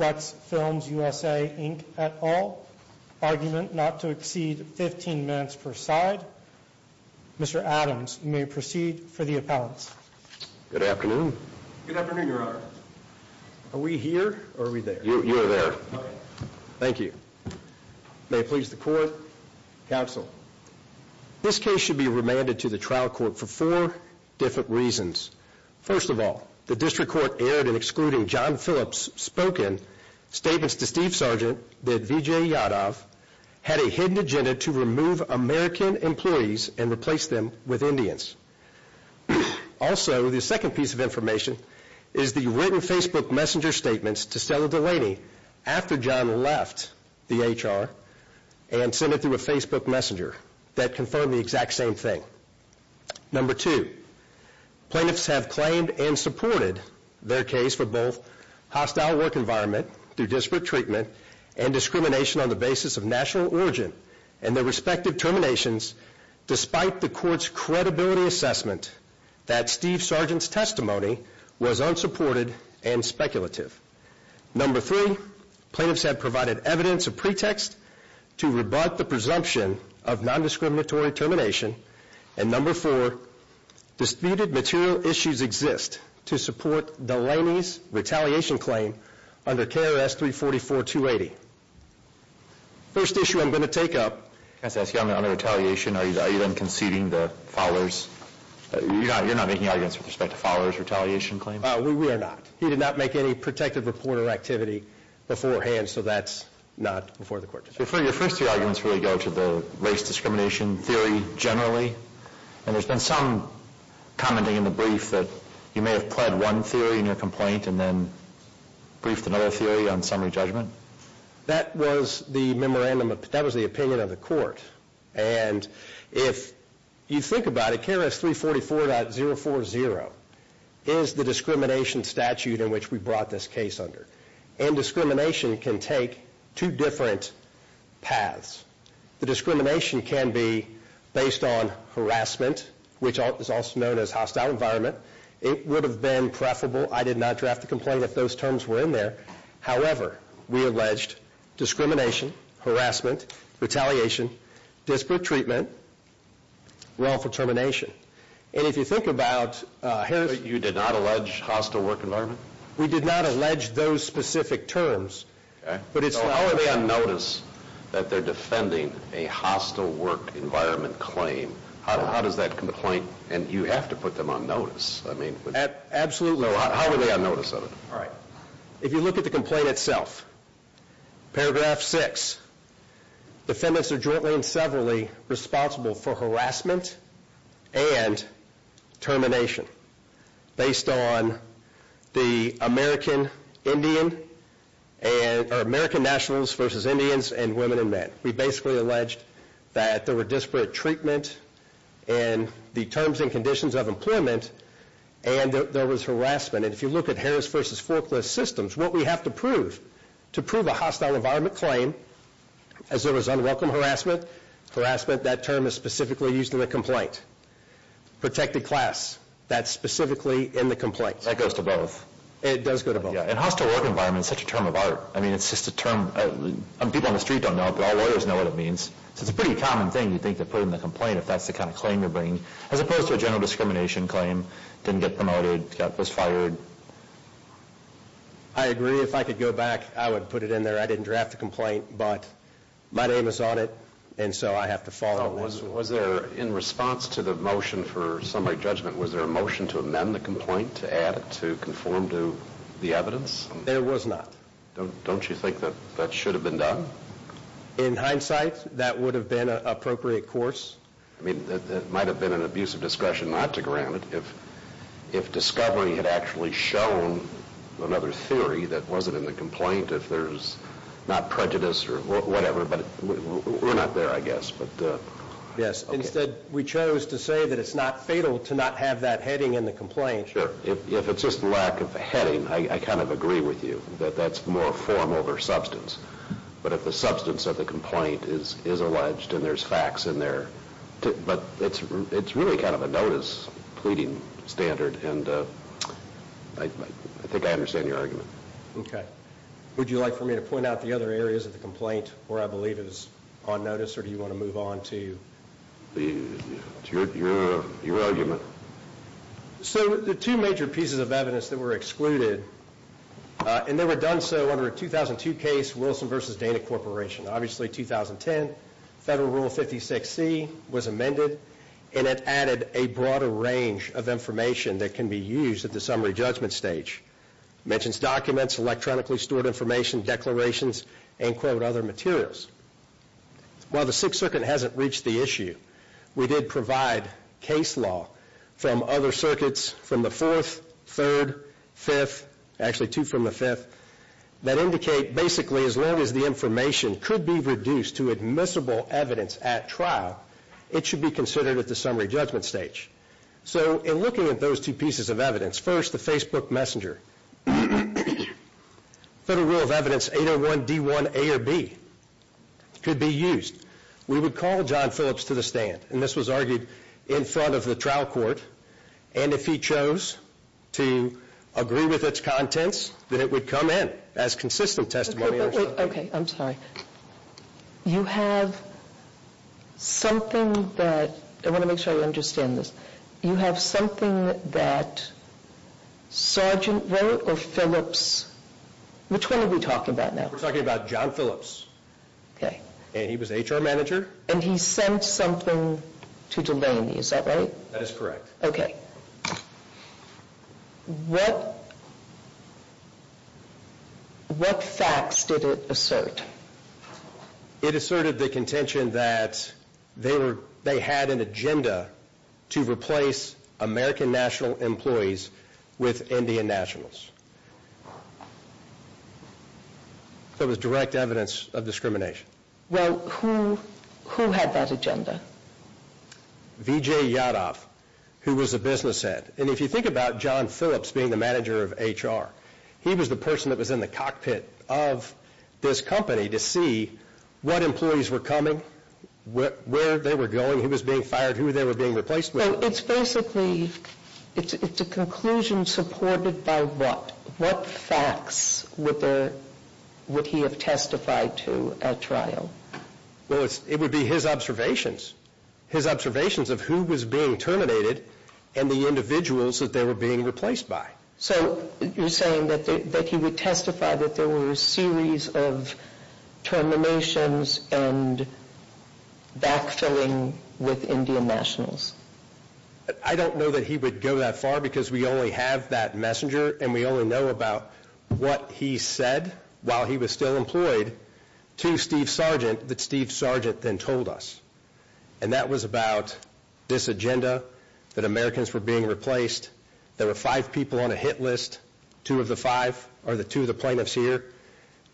at all. Argument not to exceed 15 minutes per side. Mr. Adams, you may proceed for the appellants. Good afternoon. Good afternoon, Your Honor. Are we here or are we there? You are there. Thank you. May it please the court. Counsel. This case should be remanded to the trial court for four different reasons. First of all, the district court erred in excluding John Phillips' spoken statements to Steve Sargent that Vijay Yadav had a hidden agenda to remove American employees and replace them with Indians. Also, the second piece of information is the written Facebook messenger statements to Stella Dulaney after John left the HR and sent it through a Facebook messenger that confirmed the exact same thing. Number two, plaintiffs have claimed and supported their case for both hostile work environment through disparate treatment and discrimination on the basis of national origin and their respective terminations despite the court's credibility assessment that Steve Sargent's testimony was unsupported and speculative. Number three, plaintiffs have provided evidence of pretext to rebut the presumption of non-discriminatory termination. And number four, disputed material issues exist to support Dulaney's retaliation claim under KRS 344-280. First issue I'm going to take up. I'm going to ask you, under retaliation, are you then conceding the Fowler's, you're not making arguments with respect to Fowler's retaliation claim? We are not. He did not make any protective reporter activity beforehand, so that's not before the court today. So your first two arguments really go to the race discrimination theory generally, and there's been some commenting in the brief that you may have pled one theory in your complaint and then briefed another theory on summary judgment? That was the memorandum, that was the opinion of the court. And if you think about it, 344.040 is the discrimination statute in which we brought this case under. And discrimination can take two different paths. The discrimination can be based on harassment, which is also known as hostile environment. It would have been preferable, I did not draft the complaint if those terms were in there. However, we alleged discrimination, harassment, retaliation, disparate treatment, wrongful termination. And if you think about harassment... But you did not allege hostile work environment? We did not allege those specific terms, but it's... So how are they on notice that they're defending a hostile work environment claim? How does that complaint, and you have to put them on notice, I mean... Absolutely. How are they on notice of it? If you look at the complaint itself, paragraph six, defendants are jointly and severally responsible for harassment and termination based on the American Indian, or American nationals versus Indians and women and men. We basically alleged that there were disparate treatment and the terms and to prove a hostile environment claim as there was unwelcome harassment. Harassment, that term is specifically used in the complaint. Protected class, that's specifically in the complaint. That goes to both? It does go to both. Yeah, and hostile work environment is such a term of art. I mean, it's just a term... People on the street don't know it, but all lawyers know what it means. So it's a pretty common thing, you think, to put in the complaint if that's the kind of claim you're bringing. As opposed to a general discrimination claim, didn't get to go back, I would put it in there. I didn't draft the complaint, but my name is on it, and so I have to follow that. Was there, in response to the motion for summary judgment, was there a motion to amend the complaint to add it to conform to the evidence? There was not. Don't you think that should have been done? In hindsight, that would have been an appropriate course. I mean, that might have been an abuse of discretion not to grant it. If discovery had actually shown another theory that wasn't in the complaint, if there's not prejudice or whatever, but we're not there, I guess. Yes. Instead, we chose to say that it's not fatal to not have that heading in the complaint. Sure. If it's just lack of a heading, I kind of agree with you, that that's more form over substance. But if the substance of the complaint is alleged and there's facts in there, but it's really kind of a notice pleading standard, and I think I understand your argument. Okay. Would you like for me to point out the other areas of the complaint where I believe it is on notice, or do you want to move on to your argument? So, the two major pieces of evidence that were excluded, and they were done so under a 2002 case, Wilson v. Dana Corporation. Obviously, 2010, Federal Rule 56C was amended, and it added a broader range of information that can be used at the summary judgment stage. It mentions documents, electronically stored information, declarations, and quote other actually two from the fifth, that indicate basically as long as the information could be reduced to admissible evidence at trial, it should be considered at the summary judgment stage. So, in looking at those two pieces of evidence, first the Facebook Messenger, Federal Rule of Evidence 801 D1 A or B could be used. We would call John Phillips to the stand, and this was argued in front of the trial court, and if he chose to agree with its contents, then it would come in as consistent testimony. Okay, I'm sorry. You have something that, I want to make sure I understand this, you have something that Sergeant And he sent something to Delaney, is that right? That is correct. Okay. What facts did it assert? It asserted the contention that they had an agenda to Who had that agenda? Vijay Yadav, who was a business head. And if you think about John Phillips being the manager of HR, he was the person that was in the cockpit of this company to see what employees were coming, where they were going, who was being fired, who they were being replaced with. So, it's basically, it's a conclusion supported by what? What facts would he have testified to at trial? Well, it would be his observations. His observations of who was being terminated and the individuals that they were being replaced by. So, you're saying that he would testify that there were a series of terminations and backfilling with Indian nationals? I don't know that he would go that far because we only have that messenger and we only know about what he said while he was still employed to Steve Sargent that Steve Sargent then told us. And that was about this agenda, that Americans were being replaced, there were five people on a hit list, two of the five are the two of the plaintiffs here.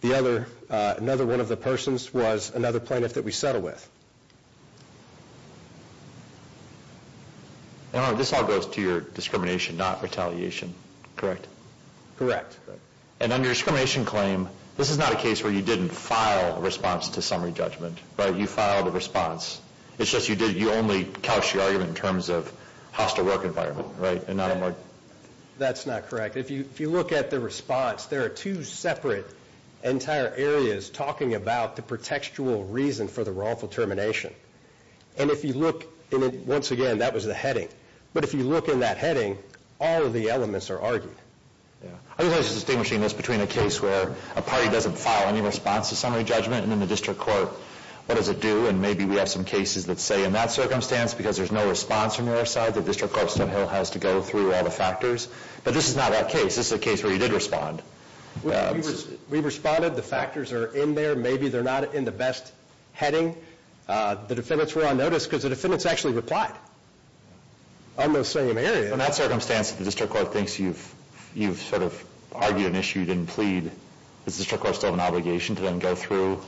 The other, another one of the persons was another plaintiff that we settled with. This all goes to your discrimination, not retaliation, correct? Correct. And on your discrimination claim, this is not a case where you didn't file a response to summary judgment, right? You filed a response. It's just you only couched your argument in terms of hostile work environment, right? That's not correct. If you look at the response, there are two separate entire areas talking about the pretextual reason for the wrongful termination. And if you look, once again, that was the heading. But if you look in that heading, all of the elements are argued. I was just distinguishing this between a case where a party doesn't file any response to summary judgment and in the district court, what does it do? And maybe we have some cases that say in that circumstance, because there's no response from your side, the district court somehow has to go through all the factors. But this is not that case. This is a case where you did respond. We responded. The factors are in there. Maybe they're not in the best heading. The defendants were on notice because the defendants actually replied on those same areas. In that circumstance, the district court thinks you've sort of argued an issue you didn't plead. Does the district court still have an obligation to then go through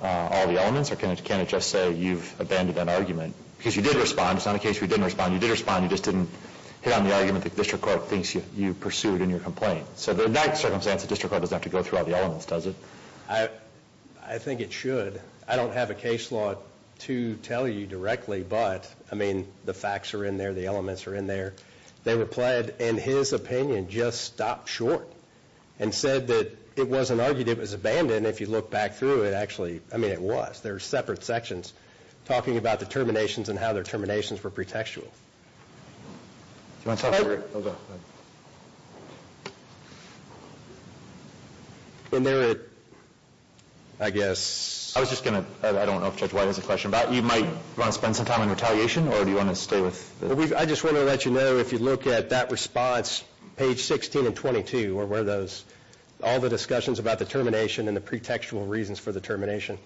all the elements? Or can it just say you've abandoned that argument? Because you did respond. It's not a case where you didn't respond. You did respond. You just didn't hit on the argument that the district court thinks you pursued in your complaint. So in that circumstance, the district court doesn't have to go through all the elements, does it? I think it should. I don't have a case law to tell you directly. But, I mean, the facts are in there. The elements are in there. They replied, and his opinion just stopped short and said that it wasn't argued. It was abandoned. If you look back through it, actually, I mean, it was. There were separate sections talking about the terminations and how their terminations were pretextual. Do you want to talk about it? Hold on. In there, I guess. I was just going to. I don't know if Judge White has a question about it. You might want to spend some time on retaliation, or do you want to stay with this? I just want to let you know, if you look at that response, page 16 and 22, where all the discussions about the termination and the pretextual reasons for the termination,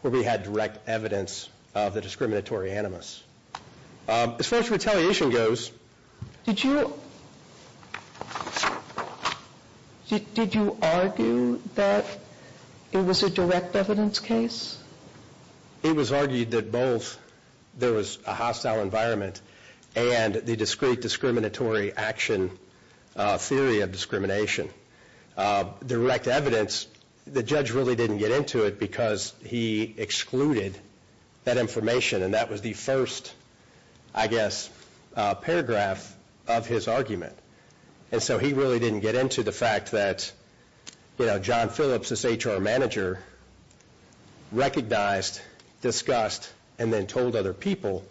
where we had direct evidence of the discriminatory animus. As far as retaliation goes. Did you argue that it was a direct evidence case? It was argued that both there was a hostile environment and the discrete discriminatory action theory of discrimination. Direct evidence, the judge really didn't get into it because he excluded that information, and that was the first, I guess, paragraph of his argument. He really didn't get into the fact that John Phillips, his HR manager, recognized, discussed, and then told other people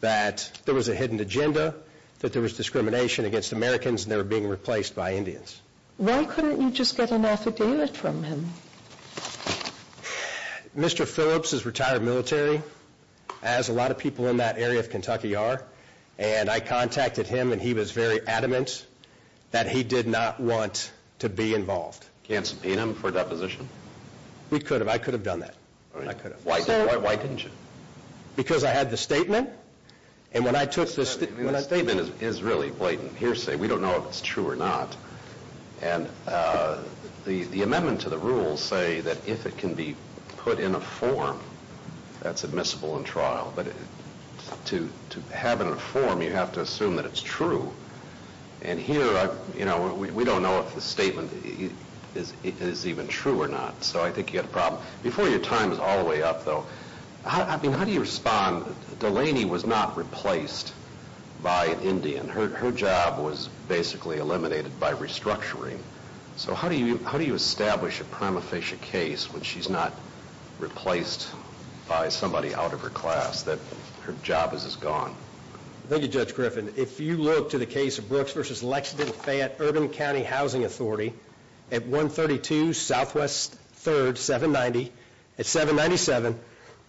that there was a hidden agenda, that there was discrimination against Americans, and they were being replaced by Indians. Why couldn't you just get an affidavit from him? Mr. Phillips is retired military, as a lot of people in that area of Kentucky are, and I contacted him, and he was very adamant that he did not want to be involved. Can't subpoena him for deposition? We could have. I could have done that. Why didn't you? Because I had the statement, and when I took the statement. The statement is really blatant hearsay. We don't know if it's true or not, and the amendment to the rules say that if it can be put in a form, that's admissible in trial. But to have it in a form, you have to assume that it's true. And here, we don't know if the statement is even true or not. So I think you have a problem. Before your time is all the way up, though, how do you respond? Delaney was not replaced by an Indian. Her job was basically eliminated by restructuring. So how do you establish a prima facie case when she's not replaced by somebody out of her class, that her job is gone? Thank you, Judge Griffin. If you look to the case of Brooks v. Lexington-Fayette Urban County Housing Authority at 132 Southwest 3rd, 790, at 797,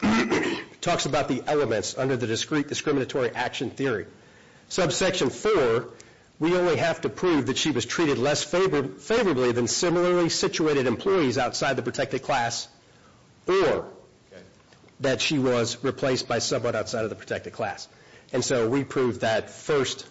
it talks about the elements under the Discriminatory Action Theory. Subsection 4, we only have to prove that she was treated less favorably than similarly situated employees outside the protected class or that she was replaced by someone outside of the protected class. And so we proved that first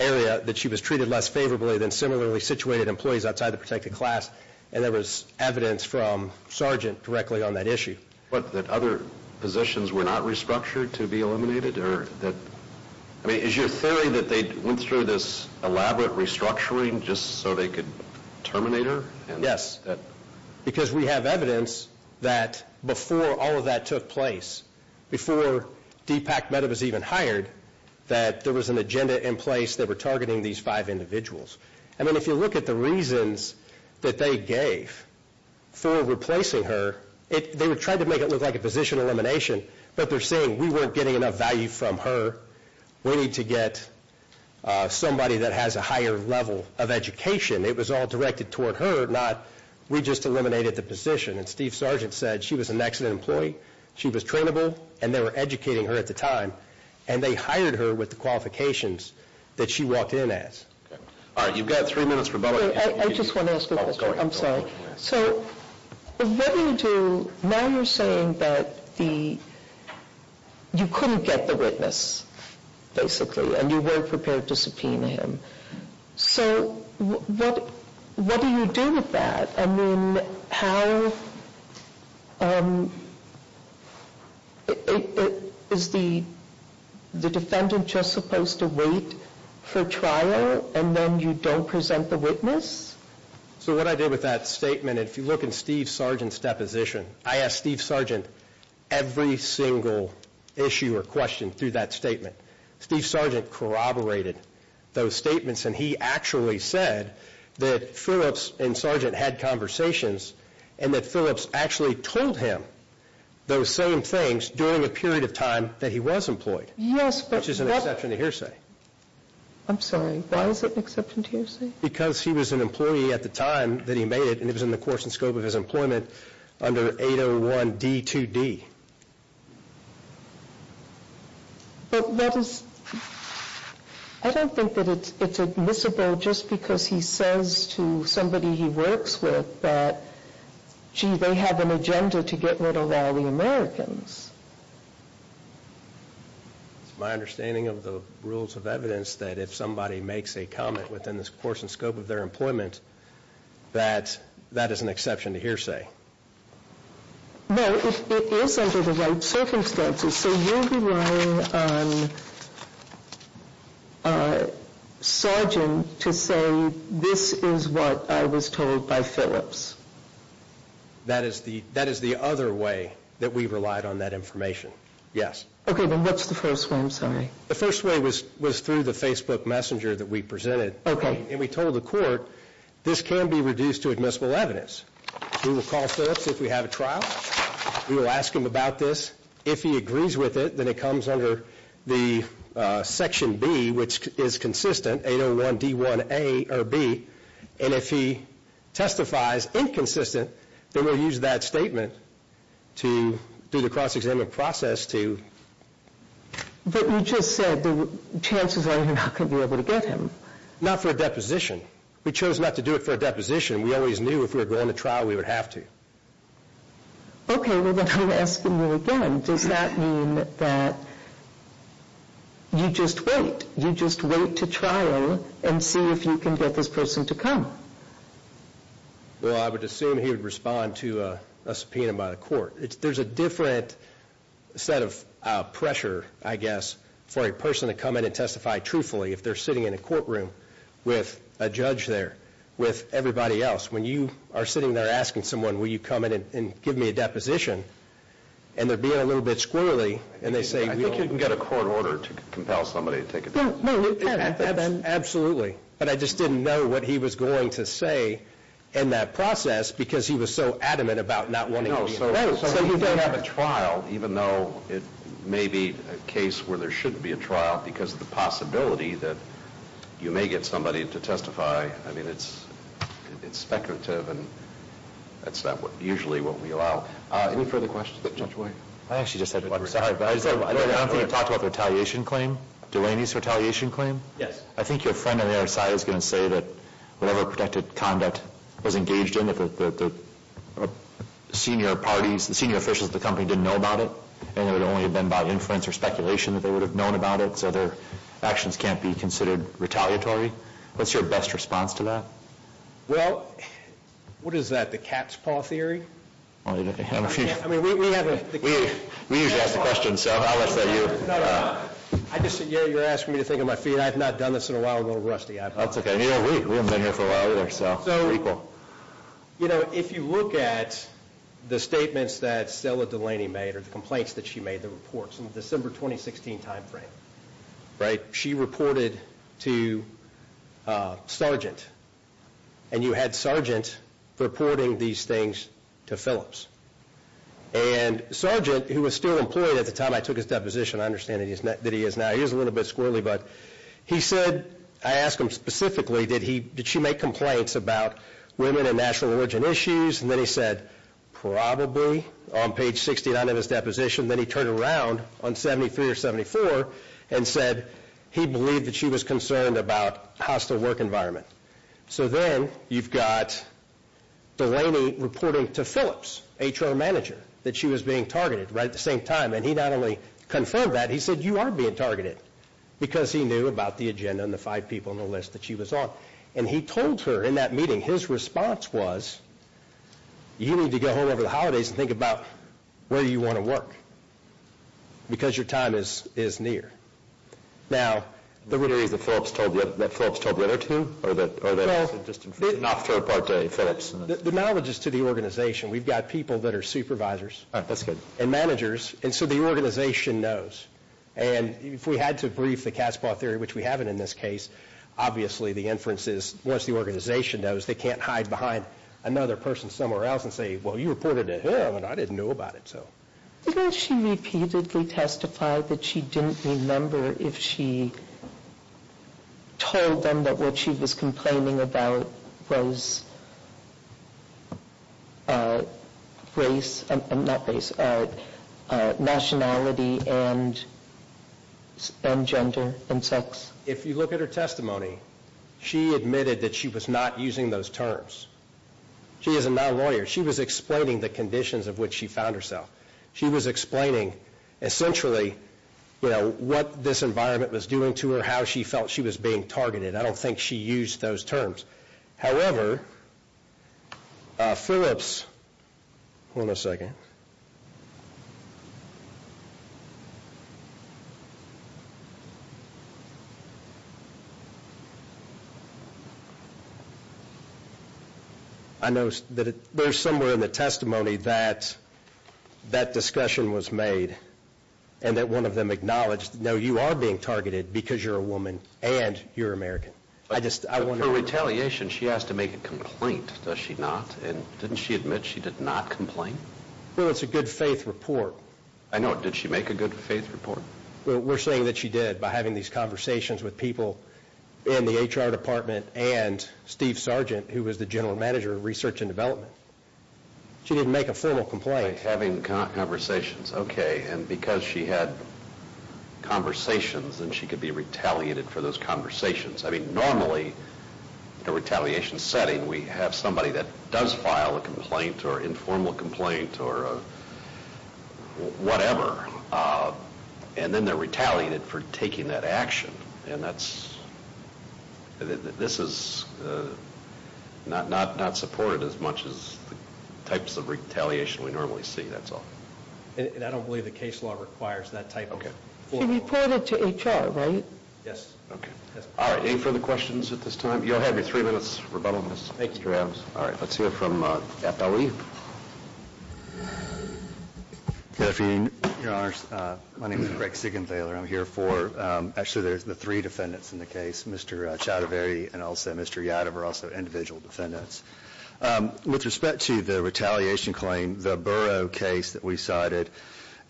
area, that she was treated less favorably than similarly situated employees outside the protected class, and there was evidence from Sargent directly on that issue. What, that other positions were not restructured to be eliminated? I mean, is your theory that they went through this elaborate restructuring just so they could terminate her? Yes, because we have evidence that before all of that took place, before Deepak Mehta was even hired, that there was an agenda in place that were targeting these five individuals. I mean, if you look at the reasons that they gave for replacing her, they were trying to make it look like a position elimination, but they're saying we weren't getting enough value from her, we need to get somebody that has a higher level of education. It was all directed toward her, not we just eliminated the position. And Steve Sargent said she was an excellent employee, she was trainable, and they were educating her at the time, and they hired her with the qualifications that she walked in as. All right, you've got three minutes for bubbling. I just want to ask a question. I'm sorry. So what do you do? Now you're saying that you couldn't get the witness, basically, and you weren't prepared to subpoena him. So what do you do with that? I mean, is the defendant just supposed to wait for trial and then you don't present the witness? So what I did with that statement, if you look in Steve Sargent's deposition, I asked Steve Sargent every single issue or question through that statement. Steve Sargent corroborated those statements, and he actually said that Phillips and Sargent had conversations and that Phillips actually told him those same things during a period of time that he was employed, which is an exception to hearsay. I'm sorry. Why is it an exception to hearsay? Because he was an employee at the time that he made it, and it was in the course and scope of his employment under 801D2D. But that is, I don't think that it's admissible just because he says to somebody he works with that, gee, they have an agenda to get rid of all the Americans. It's my understanding of the rules of evidence that if somebody makes a comment within the course and scope of their employment, that that is an exception to hearsay. No, it is under the right circumstances. So you're relying on Sargent to say this is what I was told by Phillips. That is the other way that we relied on that information, yes. Okay, then what's the first way? I'm sorry. The first way was through the Facebook messenger that we presented. Okay. And we told the court this can be reduced to admissible evidence. We will call Phillips if we have a trial. We will ask him about this. If he agrees with it, then it comes under the Section B, which is consistent, 801D1A or B. And if he testifies inconsistent, then we'll use that statement to do the cross-examination process to But you just said the chances are you're not going to be able to get him. Not for a deposition. We chose not to do it for a deposition. We always knew if we were going to trial, we would have to. Okay, well, then I'm asking you again. Does that mean that you just wait? You just wait to trial and see if you can get this person to come? Well, I would assume he would respond to a subpoena by the court. There's a different set of pressure, I guess, for a person to come in and testify truthfully if they're sitting in a courtroom with a judge there, with everybody else. When you are sitting there asking someone, will you come in and give me a deposition, and they're being a little bit squirrely, and they say, I think you can get a court order to compel somebody to take a deposition. Absolutely. But I just didn't know what he was going to say in that process because he was so adamant about not wanting to be in the room. So you may have a trial, even though it may be a case where there shouldn't be a trial, because of the possibility that you may get somebody to testify. I mean, it's speculative, and that's not usually what we allow. Any further questions? I actually just had one. I don't think you talked about the retaliation claim, Delaney's retaliation claim. Yes. I think your friend on the other side is going to say that whatever protected conduct was engaged in, the senior parties, the senior officials of the company didn't know about it, and it would only have been by inference or speculation that they would have known about it, so their actions can't be considered retaliatory. What's your best response to that? Well, what is that, the cat's paw theory? I mean, we have a cat's paw theory. We usually ask the questions, so how much of that do you? No, no, no. You're asking me to think on my feet. I have not done this in a while. I'm a little rusty. That's okay. We haven't been here for a while either, so we're equal. So, you know, if you look at the statements that Stella Delaney made or the complaints that she made, the reports, in the December 2016 timeframe, right, she reported to Sargent, and you had Sargent reporting these things to Phillips. And Sargent, who was still employed at the time I took his deposition, I understand that he is now, he is a little bit squirrely, but he said, I ask him specifically, did she make complaints about women and national origin issues? And then he said probably on page 69 of his deposition. Then he turned around on 73 or 74 and said he believed that she was concerned about hostile work environment. So then you've got Delaney reporting to Phillips, HR manager, that she was being targeted right at the same time. And he not only confirmed that, he said you are being targeted because he knew about the agenda and the five people on the list that she was on. And he told her in that meeting, his response was, you need to go home over the holidays and think about where you want to work because your time is near. Now, the reason that Phillips told the other two, or that it's just an afterthought to Phillips? The knowledge is to the organization. We've got people that are supervisors and managers, and so the organization knows. And if we had to brief the Kaspar theory, which we haven't in this case, obviously the inference is once the organization knows, they can't hide behind another person somewhere else and say, well, you reported to him and I didn't know about it. Didn't she repeatedly testify that she didn't remember if she told them that what she was complaining about was race, not race, nationality and gender and sex? If you look at her testimony, she admitted that she was not using those terms. She is a non-lawyer. She was explaining the conditions of which she found herself. She was explaining essentially what this environment was doing to her, how she felt she was being targeted. I don't think she used those terms. However, Phillips, hold on a second. I noticed that there's somewhere in the testimony that that discussion was made and that one of them acknowledged, no, you are being targeted because you're a woman and you're American. For retaliation, she has to make a complaint, does she not? And didn't she admit she did not complain? Well, it's a good faith report. I know. Did she make a good faith report? We're saying that she did by having these conversations with people in the HR department and Steve Sargent, who was the general manager of research and development. She didn't make a formal complaint. By having conversations, okay. And because she had conversations, then she could be retaliated for those conversations. I mean, normally in a retaliation setting, we have somebody that does file a complaint or informal complaint or whatever, and then they're retaliated for taking that action. And that's, this is not supported as much as the types of retaliation we normally see, that's all. And I don't believe the case law requires that type of. Okay. She reported to HR, right? Yes. Okay. All right, any further questions at this time? You'll have your three minutes rebuttal, Mr. Adams. Thank you. All right, let's hear from FLE. Good afternoon, Your Honors. My name is Greg Sigenthaler. I'm here for, actually there's the three defendants in the case, Mr. Choudhury and also Mr. Yadav are also individual defendants. With respect to the retaliation claim, the Burrough case that we cited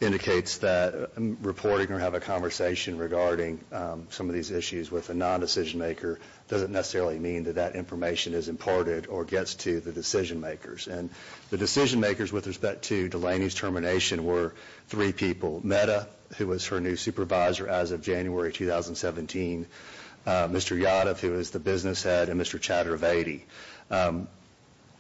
indicates that reporting or having a conversation regarding some of these issues with a non-decision maker doesn't necessarily mean that that information is imported or gets to the decision makers. And the decision makers with respect to Delaney's termination were three people, Meta, who was her new supervisor as of January 2017, Mr. Yadav, who was the business head, and Mr. Choudhury.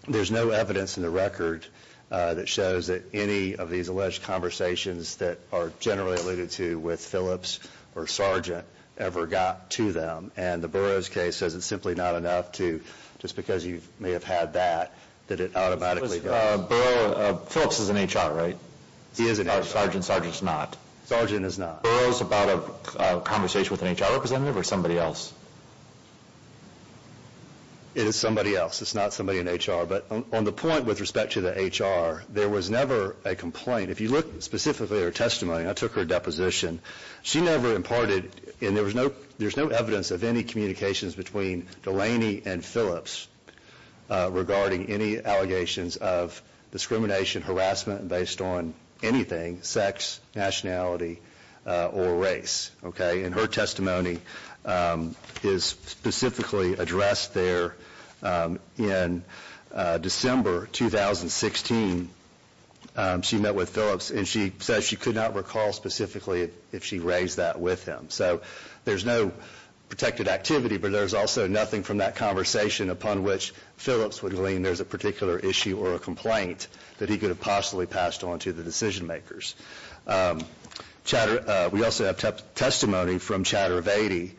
There's no evidence in the record that shows that any of these alleged conversations that are generally alluded to with Phillips or Sargent ever got to them. And the Burroughs case says it's simply not enough to, just because you may have had that, that it automatically got to you. Phillips is in HR, right? He is in HR. Sargent's not. Sargent is not. Burroughs is about a conversation with an HR representative or somebody else? It is somebody else. It's not somebody in HR. But on the point with respect to the HR, there was never a complaint. If you look specifically at her testimony, I took her deposition, she never imparted, and there's no evidence of any communications between Delaney and Phillips regarding any allegations of discrimination, harassment based on anything, sex, nationality, or race. Okay? And her testimony is specifically addressed there in December 2016. She met with Phillips, and she says she could not recall specifically if she raised that with him. So there's no protected activity, but there's also nothing from that conversation upon which Phillips would glean there's a particular issue or a complaint that he could have possibly passed on to the decision makers. We also have testimony from Chattervedi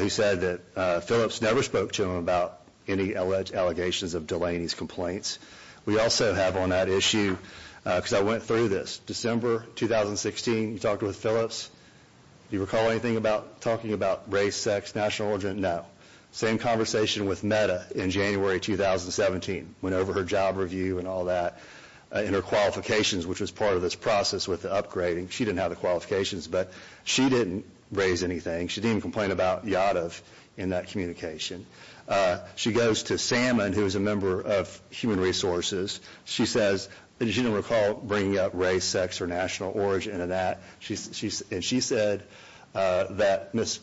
who said that Phillips never spoke to him about any allegations of Delaney's complaints. We also have on that issue, because I went through this, December 2016, you talked with Phillips. Do you recall anything about talking about race, sex, national origin? No. Same conversation with Metta in January 2017. Went over her job review and all that and her qualifications, which was part of this process with the upgrading. She didn't have the qualifications, but she didn't raise anything. She didn't even complain about Yadov in that communication. She goes to Salmon, who is a member of Human Resources. She says she didn't recall bringing up race, sex, or national origin in that. And she said that Ms.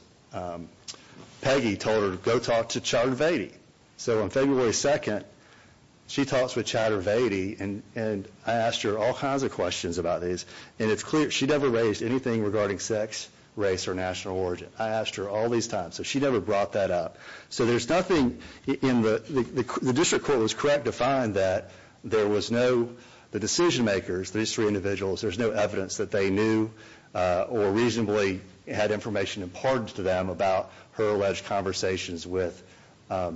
Peggy told her to go talk to Chattervedi. So on February 2nd, she talks with Chattervedi, and I asked her all kinds of questions about this. And it's clear she never raised anything regarding sex, race, or national origin. I asked her all these times, so she never brought that up. So there's nothing in the – the district court was correct to find that there was no – or reasonably had information imparted to them about her alleged conversations with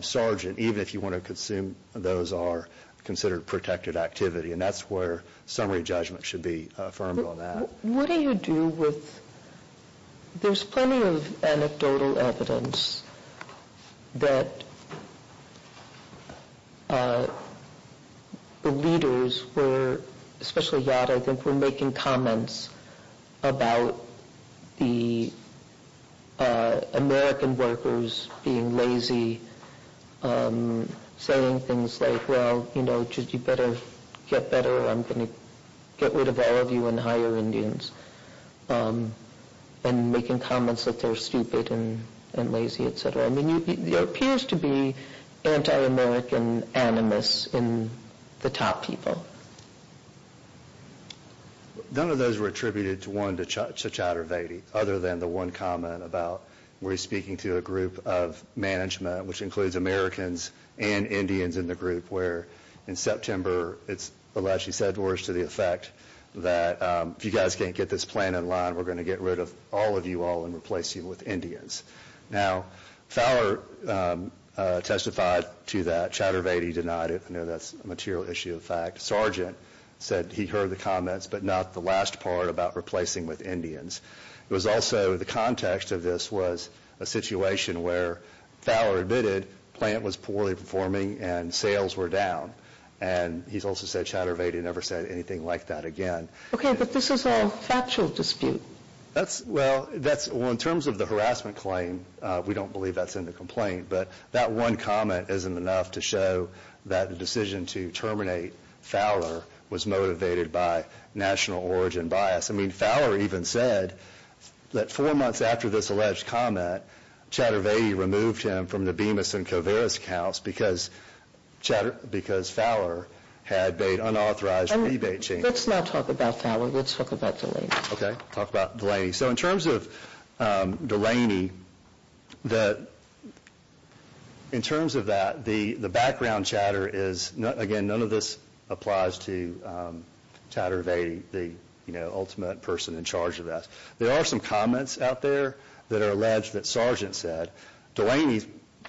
Sargent, even if you want to assume those are considered protected activity. And that's where summary judgment should be affirmed on that. What do you do with – there's plenty of anecdotal evidence that the leaders were – especially Yad, I think, were making comments about the American workers being lazy, saying things like, well, you know, you better get better, or I'm going to get rid of all of you and hire Indians, and making comments that they're stupid and lazy, et cetera. I mean, there appears to be anti-American animus in the top people. None of those were attributed to one to Chattervedi, other than the one comment about where he's speaking to a group of management, which includes Americans and Indians in the group, where in September it's allegedly said, worse to the effect, that if you guys can't get this plan in line, we're going to get rid of all of you all and replace you with Indians. Now, Fowler testified to that. Chattervedi denied it. I know that's a material issue of fact. Sargent said he heard the comments, but not the last part about replacing with Indians. It was also – the context of this was a situation where Fowler admitted the plant was poorly performing and sales were down, and he's also said Chattervedi never said anything like that again. Okay, but this is all factual dispute. Well, in terms of the harassment claim, we don't believe that's in the complaint, but that one comment isn't enough to show that the decision to terminate Fowler was motivated by national origin bias. I mean, Fowler even said that four months after this alleged comment, Chattervedi removed him from the Bemis and Covarris accounts because Fowler had made unauthorized rebate changes. Let's not talk about Fowler. Let's talk about Delaney. Okay, talk about Delaney. So in terms of Delaney, in terms of that, the background chatter is – again, none of this applies to Chattervedi, the ultimate person in charge of that. There are some comments out there that are alleged that Sargent said. Delaney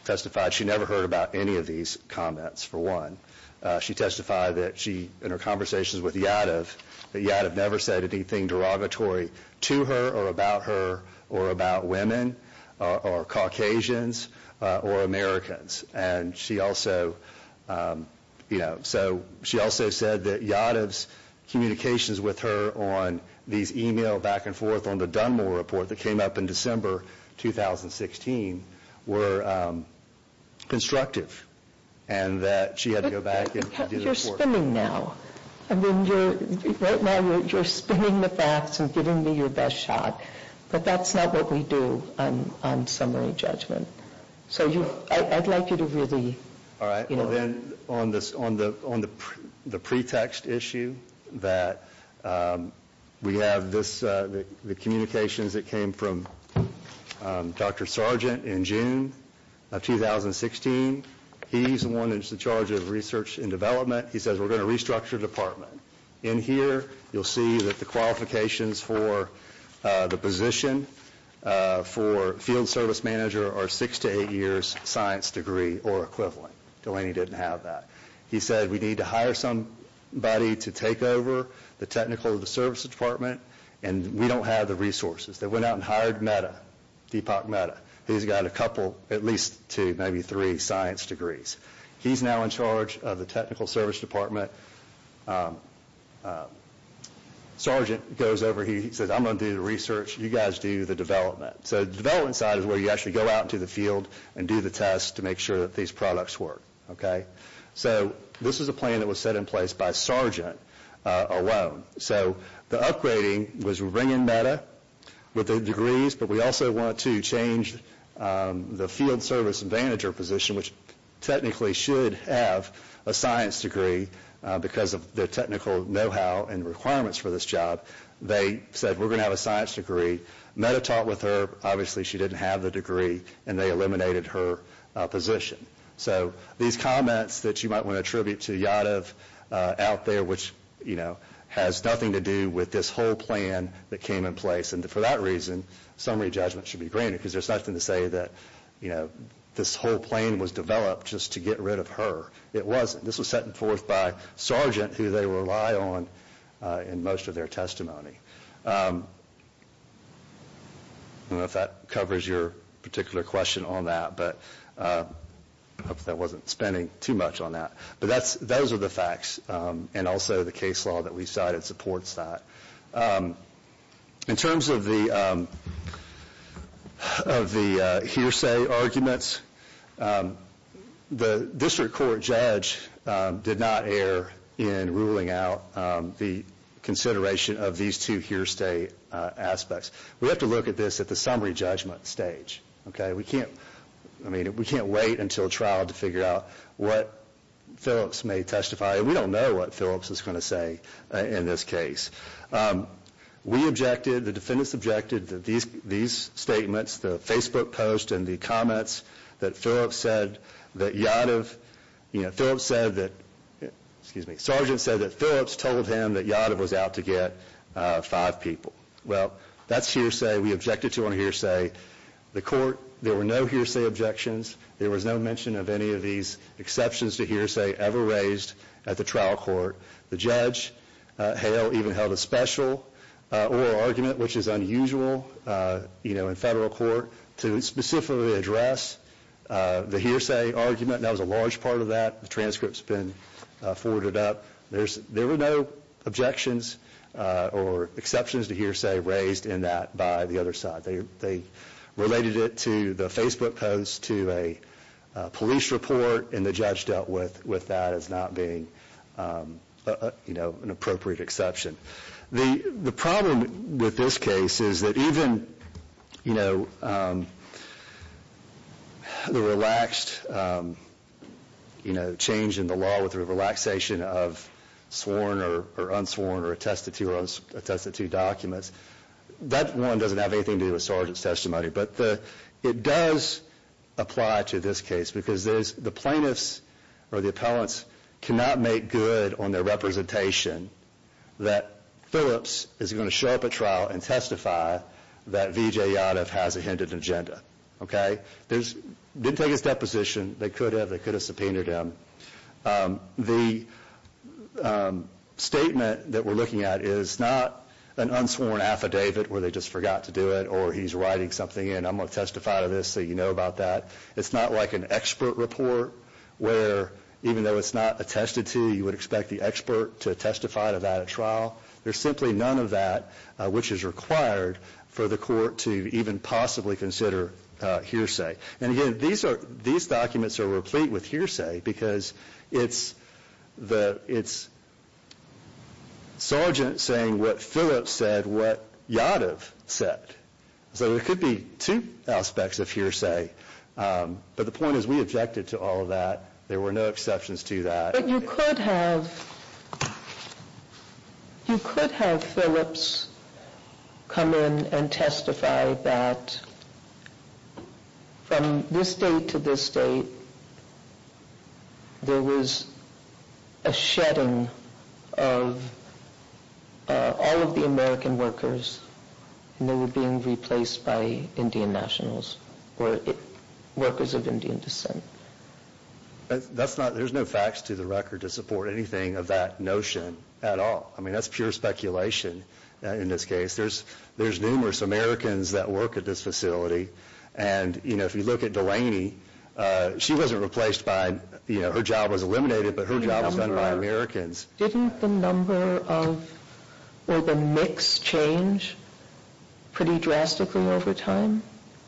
testified she never heard about any of these comments, for one. She testified that she, in her conversations with Yadav, that Yadav never said anything derogatory to her or about her or about women or Caucasians or Americans. And she also – you know, so she also said that Yadav's communications with her on these email back and forth on the Dunmore report that came up in December 2016 were constructive and that she had to go back and do the report. But you're spinning now. I mean, right now you're spinning the facts and giving me your best shot. But that's not what we do on summary judgment. So I'd like you to really – Again, on the pretext issue that we have this – the communications that came from Dr. Sargent in June of 2016, he's the one that's in charge of research and development. He says, we're going to restructure the department. In here, you'll see that the qualifications for the position for field service manager are six to eight years science degree or equivalent. Delaney didn't have that. He said, we need to hire somebody to take over the technical service department, and we don't have the resources. They went out and hired Metta, Deepak Metta. He's got a couple, at least two, maybe three science degrees. He's now in charge of the technical service department. Sargent goes over. He says, I'm going to do the research. You guys do the development. So the development side is where you actually go out into the field and do the tests to make sure that these products work. So this is a plan that was set in place by Sargent alone. So the upgrading was we bring in Metta with the degrees, but we also want to change the field service manager position, which technically should have a science degree because of the technical know-how and requirements for this job. They said, we're going to have a science degree. Metta talked with her. Obviously, she didn't have the degree, and they eliminated her position. So these comments that you might want to attribute to Yadav out there, which has nothing to do with this whole plan that came in place, and for that reason summary judgment should be granted because there's nothing to say that this whole plan was developed just to get rid of her. It wasn't. This was set forth by Sargent, who they rely on in most of their testimony. I don't know if that covers your particular question on that, but I hope that wasn't spending too much on that. But those are the facts, and also the case law that we cited supports that. In terms of the hearsay arguments, the district court judge did not err in ruling out the consideration of these two hearsay aspects. We have to look at this at the summary judgment stage. We can't wait until trial to figure out what Phillips may testify. We don't know what Phillips is going to say in this case. We objected. The defendants objected to these statements, the Facebook post, and the comments that Phillips said that Yadav, you know, Phillips said that, excuse me, Sargent said that Phillips told him that Yadav was out to get five people. Well, that's hearsay. We objected to it on hearsay. The court, there were no hearsay objections. There was no mention of any of these exceptions to hearsay ever raised at the trial court. The judge, Hale, even held a special oral argument, which is unusual, you know, in federal court to specifically address the hearsay argument. That was a large part of that. The transcript's been forwarded up. There were no objections or exceptions to hearsay raised in that by the other side. They related it to the Facebook post, to a police report, and the judge dealt with that as not being, you know, an appropriate exception. The problem with this case is that even, you know, the relaxed, you know, change in the law with the relaxation of sworn or unsworn or attested to documents, that one doesn't have anything to do with Sargent's testimony, but it does apply to this case because there's the plaintiffs or the appellants cannot make good on their representation that Phillips is going to show up at trial and testify that V.J. Yadav has a hindered agenda. Okay? Didn't take his deposition. They could have. They could have subpoenaed him. The statement that we're looking at is not an unsworn affidavit where they just forgot to do it or he's writing something in, I'm going to testify to this so you know about that. It's not like an expert report where even though it's not attested to, you would expect the expert to testify to that at trial. There's simply none of that which is required for the court to even possibly consider hearsay. And, again, these documents are replete with hearsay because it's Sargent saying what Phillips said, what Yadav said. So there could be two aspects of hearsay. But the point is we objected to all of that. There were no exceptions to that. But you could have Phillips come in and testify that from this date to this date, there was a shedding of all of the American workers, and they were being replaced by Indian nationals or workers of Indian descent. There's no facts to the record to support anything of that notion at all. I mean, that's pure speculation in this case. There's numerous Americans that work at this facility. And, you know, if you look at Delaney, she wasn't replaced by, you know, her job was eliminated, but her job was done by Americans. Didn't the number of or the mix change pretty drastically over time?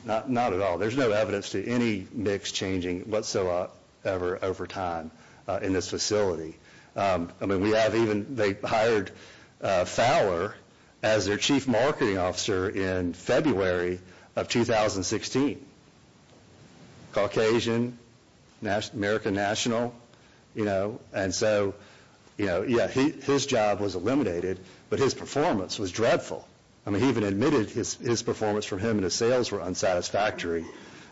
Not at all. There's no evidence to any mix changing whatsoever over time in this facility. I mean, we have even hired Fowler as their chief marketing officer in February of 2016. Caucasian, American national, you know, and so, you know, yeah, his job was eliminated, but his performance was dreadful. I mean, he even admitted his performance from him and his sales were unsatisfactory,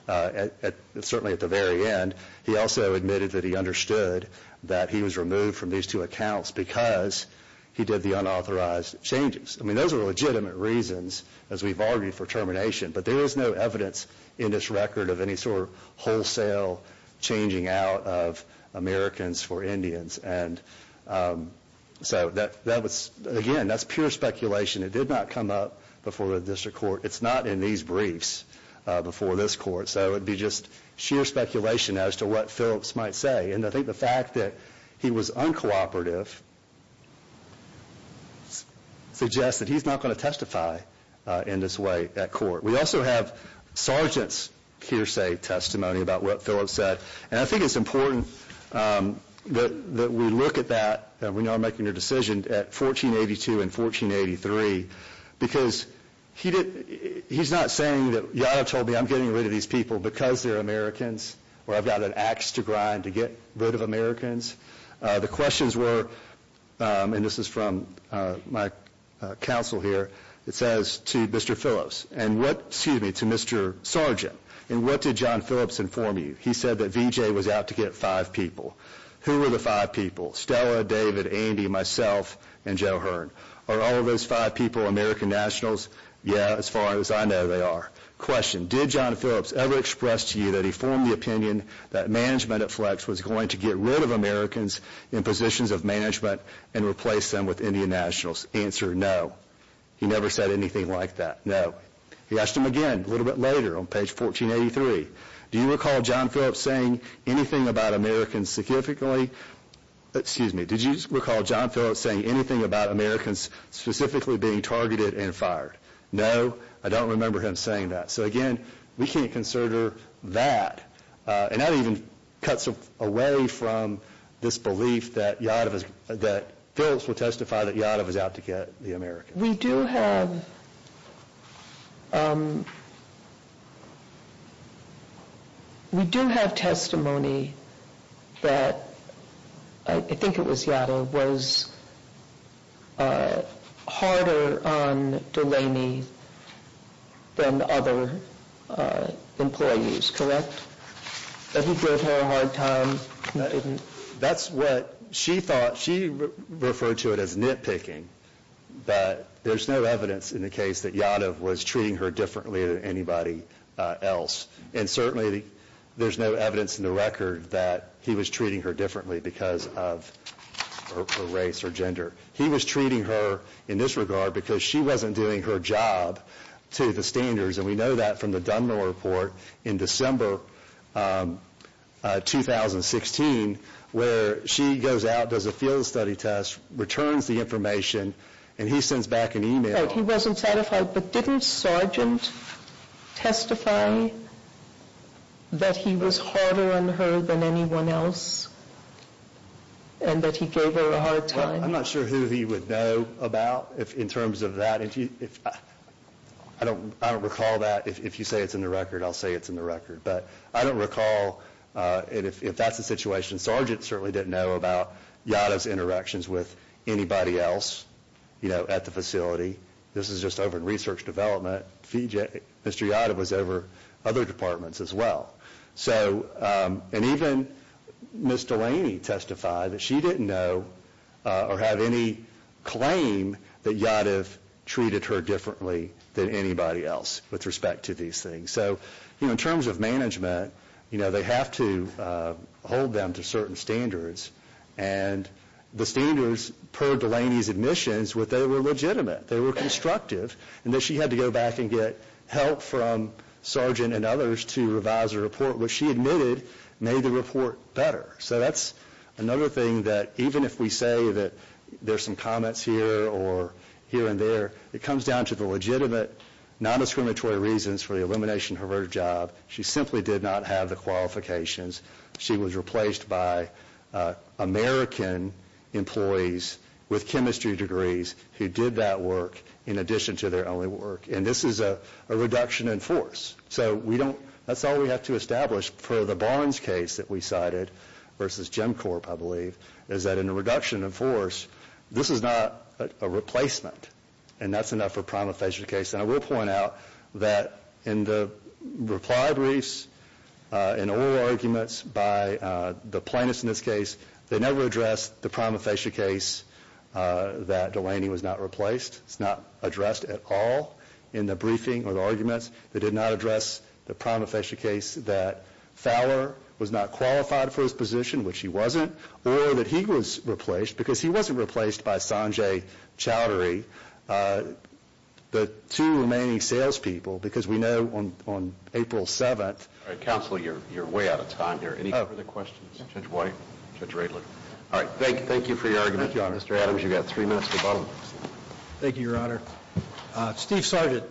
certainly at the very end. He also admitted that he understood that he was removed from these two accounts because he did the unauthorized changes. I mean, those are legitimate reasons, as we've argued, for termination, but there is no evidence in this record of any sort of wholesale changing out of Americans for Indians. And so that was, again, that's pure speculation. It did not come up before the district court. It's not in these briefs before this court. So it would be just sheer speculation as to what Phillips might say. And I think the fact that he was uncooperative suggests that he's not going to testify in this way at court. We also have sergeant's hearsay testimony about what Phillips said, and I think it's important that we look at that when you are making your decision at 1482 and 1483, because he's not saying that you all told me I'm getting rid of these people because they're Americans or I've got an ax to grind to get rid of Americans. The questions were, and this is from my counsel here, it says to Mr. Phillips, and what, excuse me, to Mr. Sergeant, and what did John Phillips inform you? He said that VJ was out to get five people. Who were the five people? Stella, David, Andy, myself, and Joe Hearn. Are all of those five people American nationals? Yeah, as far as I know they are. Question, did John Phillips ever express to you that he formed the opinion that management at Flex was going to get rid of Americans in positions of management and replace them with Indian nationals? Answer, no. He never said anything like that. No. He asked him again a little bit later on page 1483. Do you recall John Phillips saying anything about Americans specifically being targeted and fired? No. I don't remember him saying that. So, again, we can't consider that. And that even cuts away from this belief that Phillips will testify that Yadav is out to get the Americans. We do have testimony that I think it was Yadav was harder on Delaney than other employees, correct? That he gave her a hard time. That's what she thought. She referred to it as nitpicking. There's no evidence in the case that Yadav was treating her differently than anybody else. And certainly there's no evidence in the record that he was treating her differently because of her race or gender. He was treating her in this regard because she wasn't doing her job to the standards. And we know that from the Dunn-Miller report in December 2016 where she goes out, does a field study test, returns the information, and he sends back an e-mail. He wasn't satisfied. But didn't Sargent testify that he was harder on her than anyone else and that he gave her a hard time? I'm not sure who he would know about in terms of that. I don't recall that. If you say it's in the record, I'll say it's in the record. But I don't recall if that's the situation. Sargent certainly didn't know about Yadav's interactions with anybody else at the facility. This is just over research development. Mr. Yadav was over other departments as well. And even Ms. Delaney testified that she didn't know or have any claim that Yadav treated her differently than anybody else with respect to these things. So in terms of management, they have to hold them to certain standards. And the standards, per Delaney's admissions, were that they were legitimate, they were constructive, and that she had to go back and get help from Sargent and others to revise the report, which she admitted made the report better. So that's another thing that even if we say that there's some comments here or here and there, it comes down to the legitimate, non-discriminatory reasons for the elimination of her job. She simply did not have the qualifications. She was replaced by American employees with chemistry degrees who did that work in addition to their own work. And this is a reduction in force. So that's all we have to establish for the Barnes case that we cited versus Gemcorp, I believe, is that in a reduction in force, this is not a replacement, and that's enough for a prima facie case. And I will point out that in the reply briefs and oral arguments by the plaintiffs in this case, they never addressed the prima facie case that Delaney was not replaced. It's not addressed at all in the briefing or the arguments. They did not address the prima facie case that Fowler was not qualified for his position, which he wasn't, or that he was replaced because he wasn't replaced by Sanjay Chowdhury. The two remaining salespeople, because we know on April 7th All right, Counselor, you're way out of time here. Any further questions? Judge White? Judge Radler? All right, thank you for your argument. Thank you, Your Honor. Mr. Adams, you've got three minutes to the bottom. Thank you, Your Honor. Steve Sargent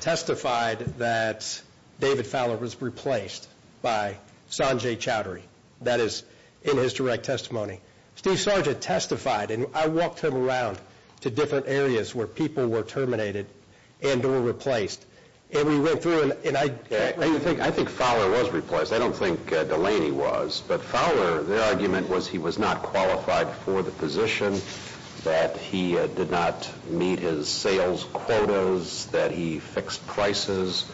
testified that David Fowler was replaced by Sanjay Chowdhury. That is in his direct testimony. Steve Sargent testified, and I walked him around to different areas where people were terminated and were replaced. And we went through, and I I think Fowler was replaced. I don't think Delaney was. But Fowler, their argument was he was not qualified for the position, that he did not meet his sales quotas, that he fixed prices,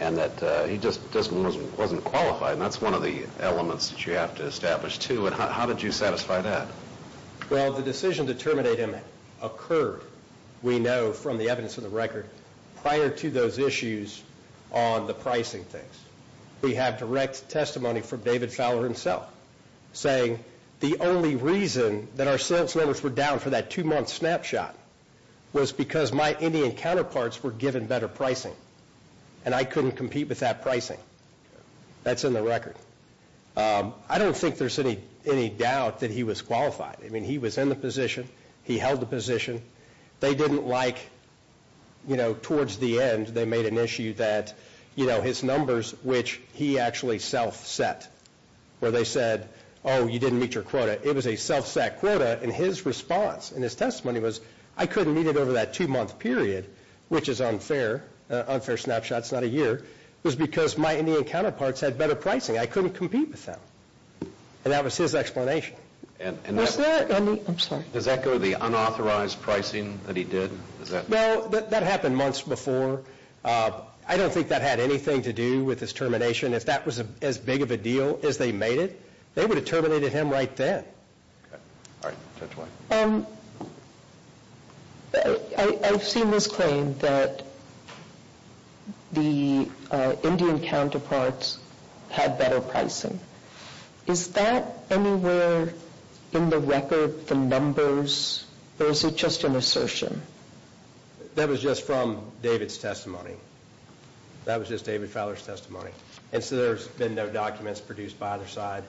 and that he just wasn't qualified. And that's one of the elements that you have to establish, too. And how did you satisfy that? Well, the decision to terminate him occurred, we know from the evidence in the record, prior to those issues on the pricing things. We have direct testimony from David Fowler himself saying, the only reason that our sales numbers were down for that two-month snapshot was because my Indian counterparts were given better pricing, and I couldn't compete with that pricing. That's in the record. I don't think there's any doubt that he was qualified. I mean, he was in the position. He held the position. They didn't like, you know, towards the end, they made an issue that, you know, his numbers, which he actually self-set, where they said, oh, you didn't meet your quota. It was a self-set quota, and his response in his testimony was, I couldn't meet it over that two-month period, which is unfair. Unfair snapshot's not a year. It was because my Indian counterparts had better pricing. I couldn't compete with them. And that was his explanation. Was there any – I'm sorry. Does that go to the unauthorized pricing that he did? Well, that happened months before. I don't think that had anything to do with his termination. If that was as big of a deal as they made it, they would have terminated him right then. All right. Judge White. I've seen this claim that the Indian counterparts had better pricing. Is that anywhere in the record, the numbers, or is it just an assertion? That was just from David's testimony. That was just David Fowler's testimony. And so there's been no documents produced by either side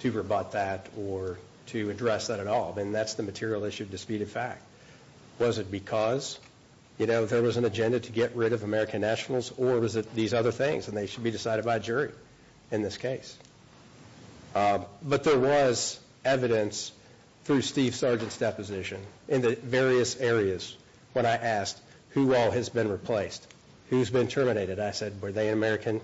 to rebut that or to address that at all, and that's the material issue of disputed fact. Was it because there was an agenda to get rid of American nationals, or was it these other things and they should be decided by a jury in this case? But there was evidence through Steve Sargent's deposition in the various areas when I asked who all has been replaced, who's been terminated. I said, were they an American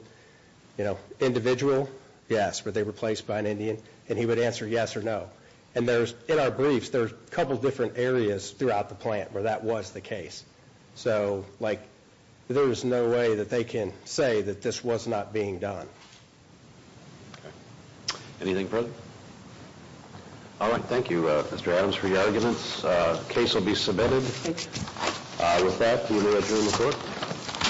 individual? Yes. Were they replaced by an Indian? And he would answer yes or no. And in our briefs, there's a couple different areas throughout the plant where that was the case. So there's no way that they can say that this was not being done. Anything further? All right. Thank you, Mr. Adams, for your arguments. The case will be submitted. With that, we will adjourn the court.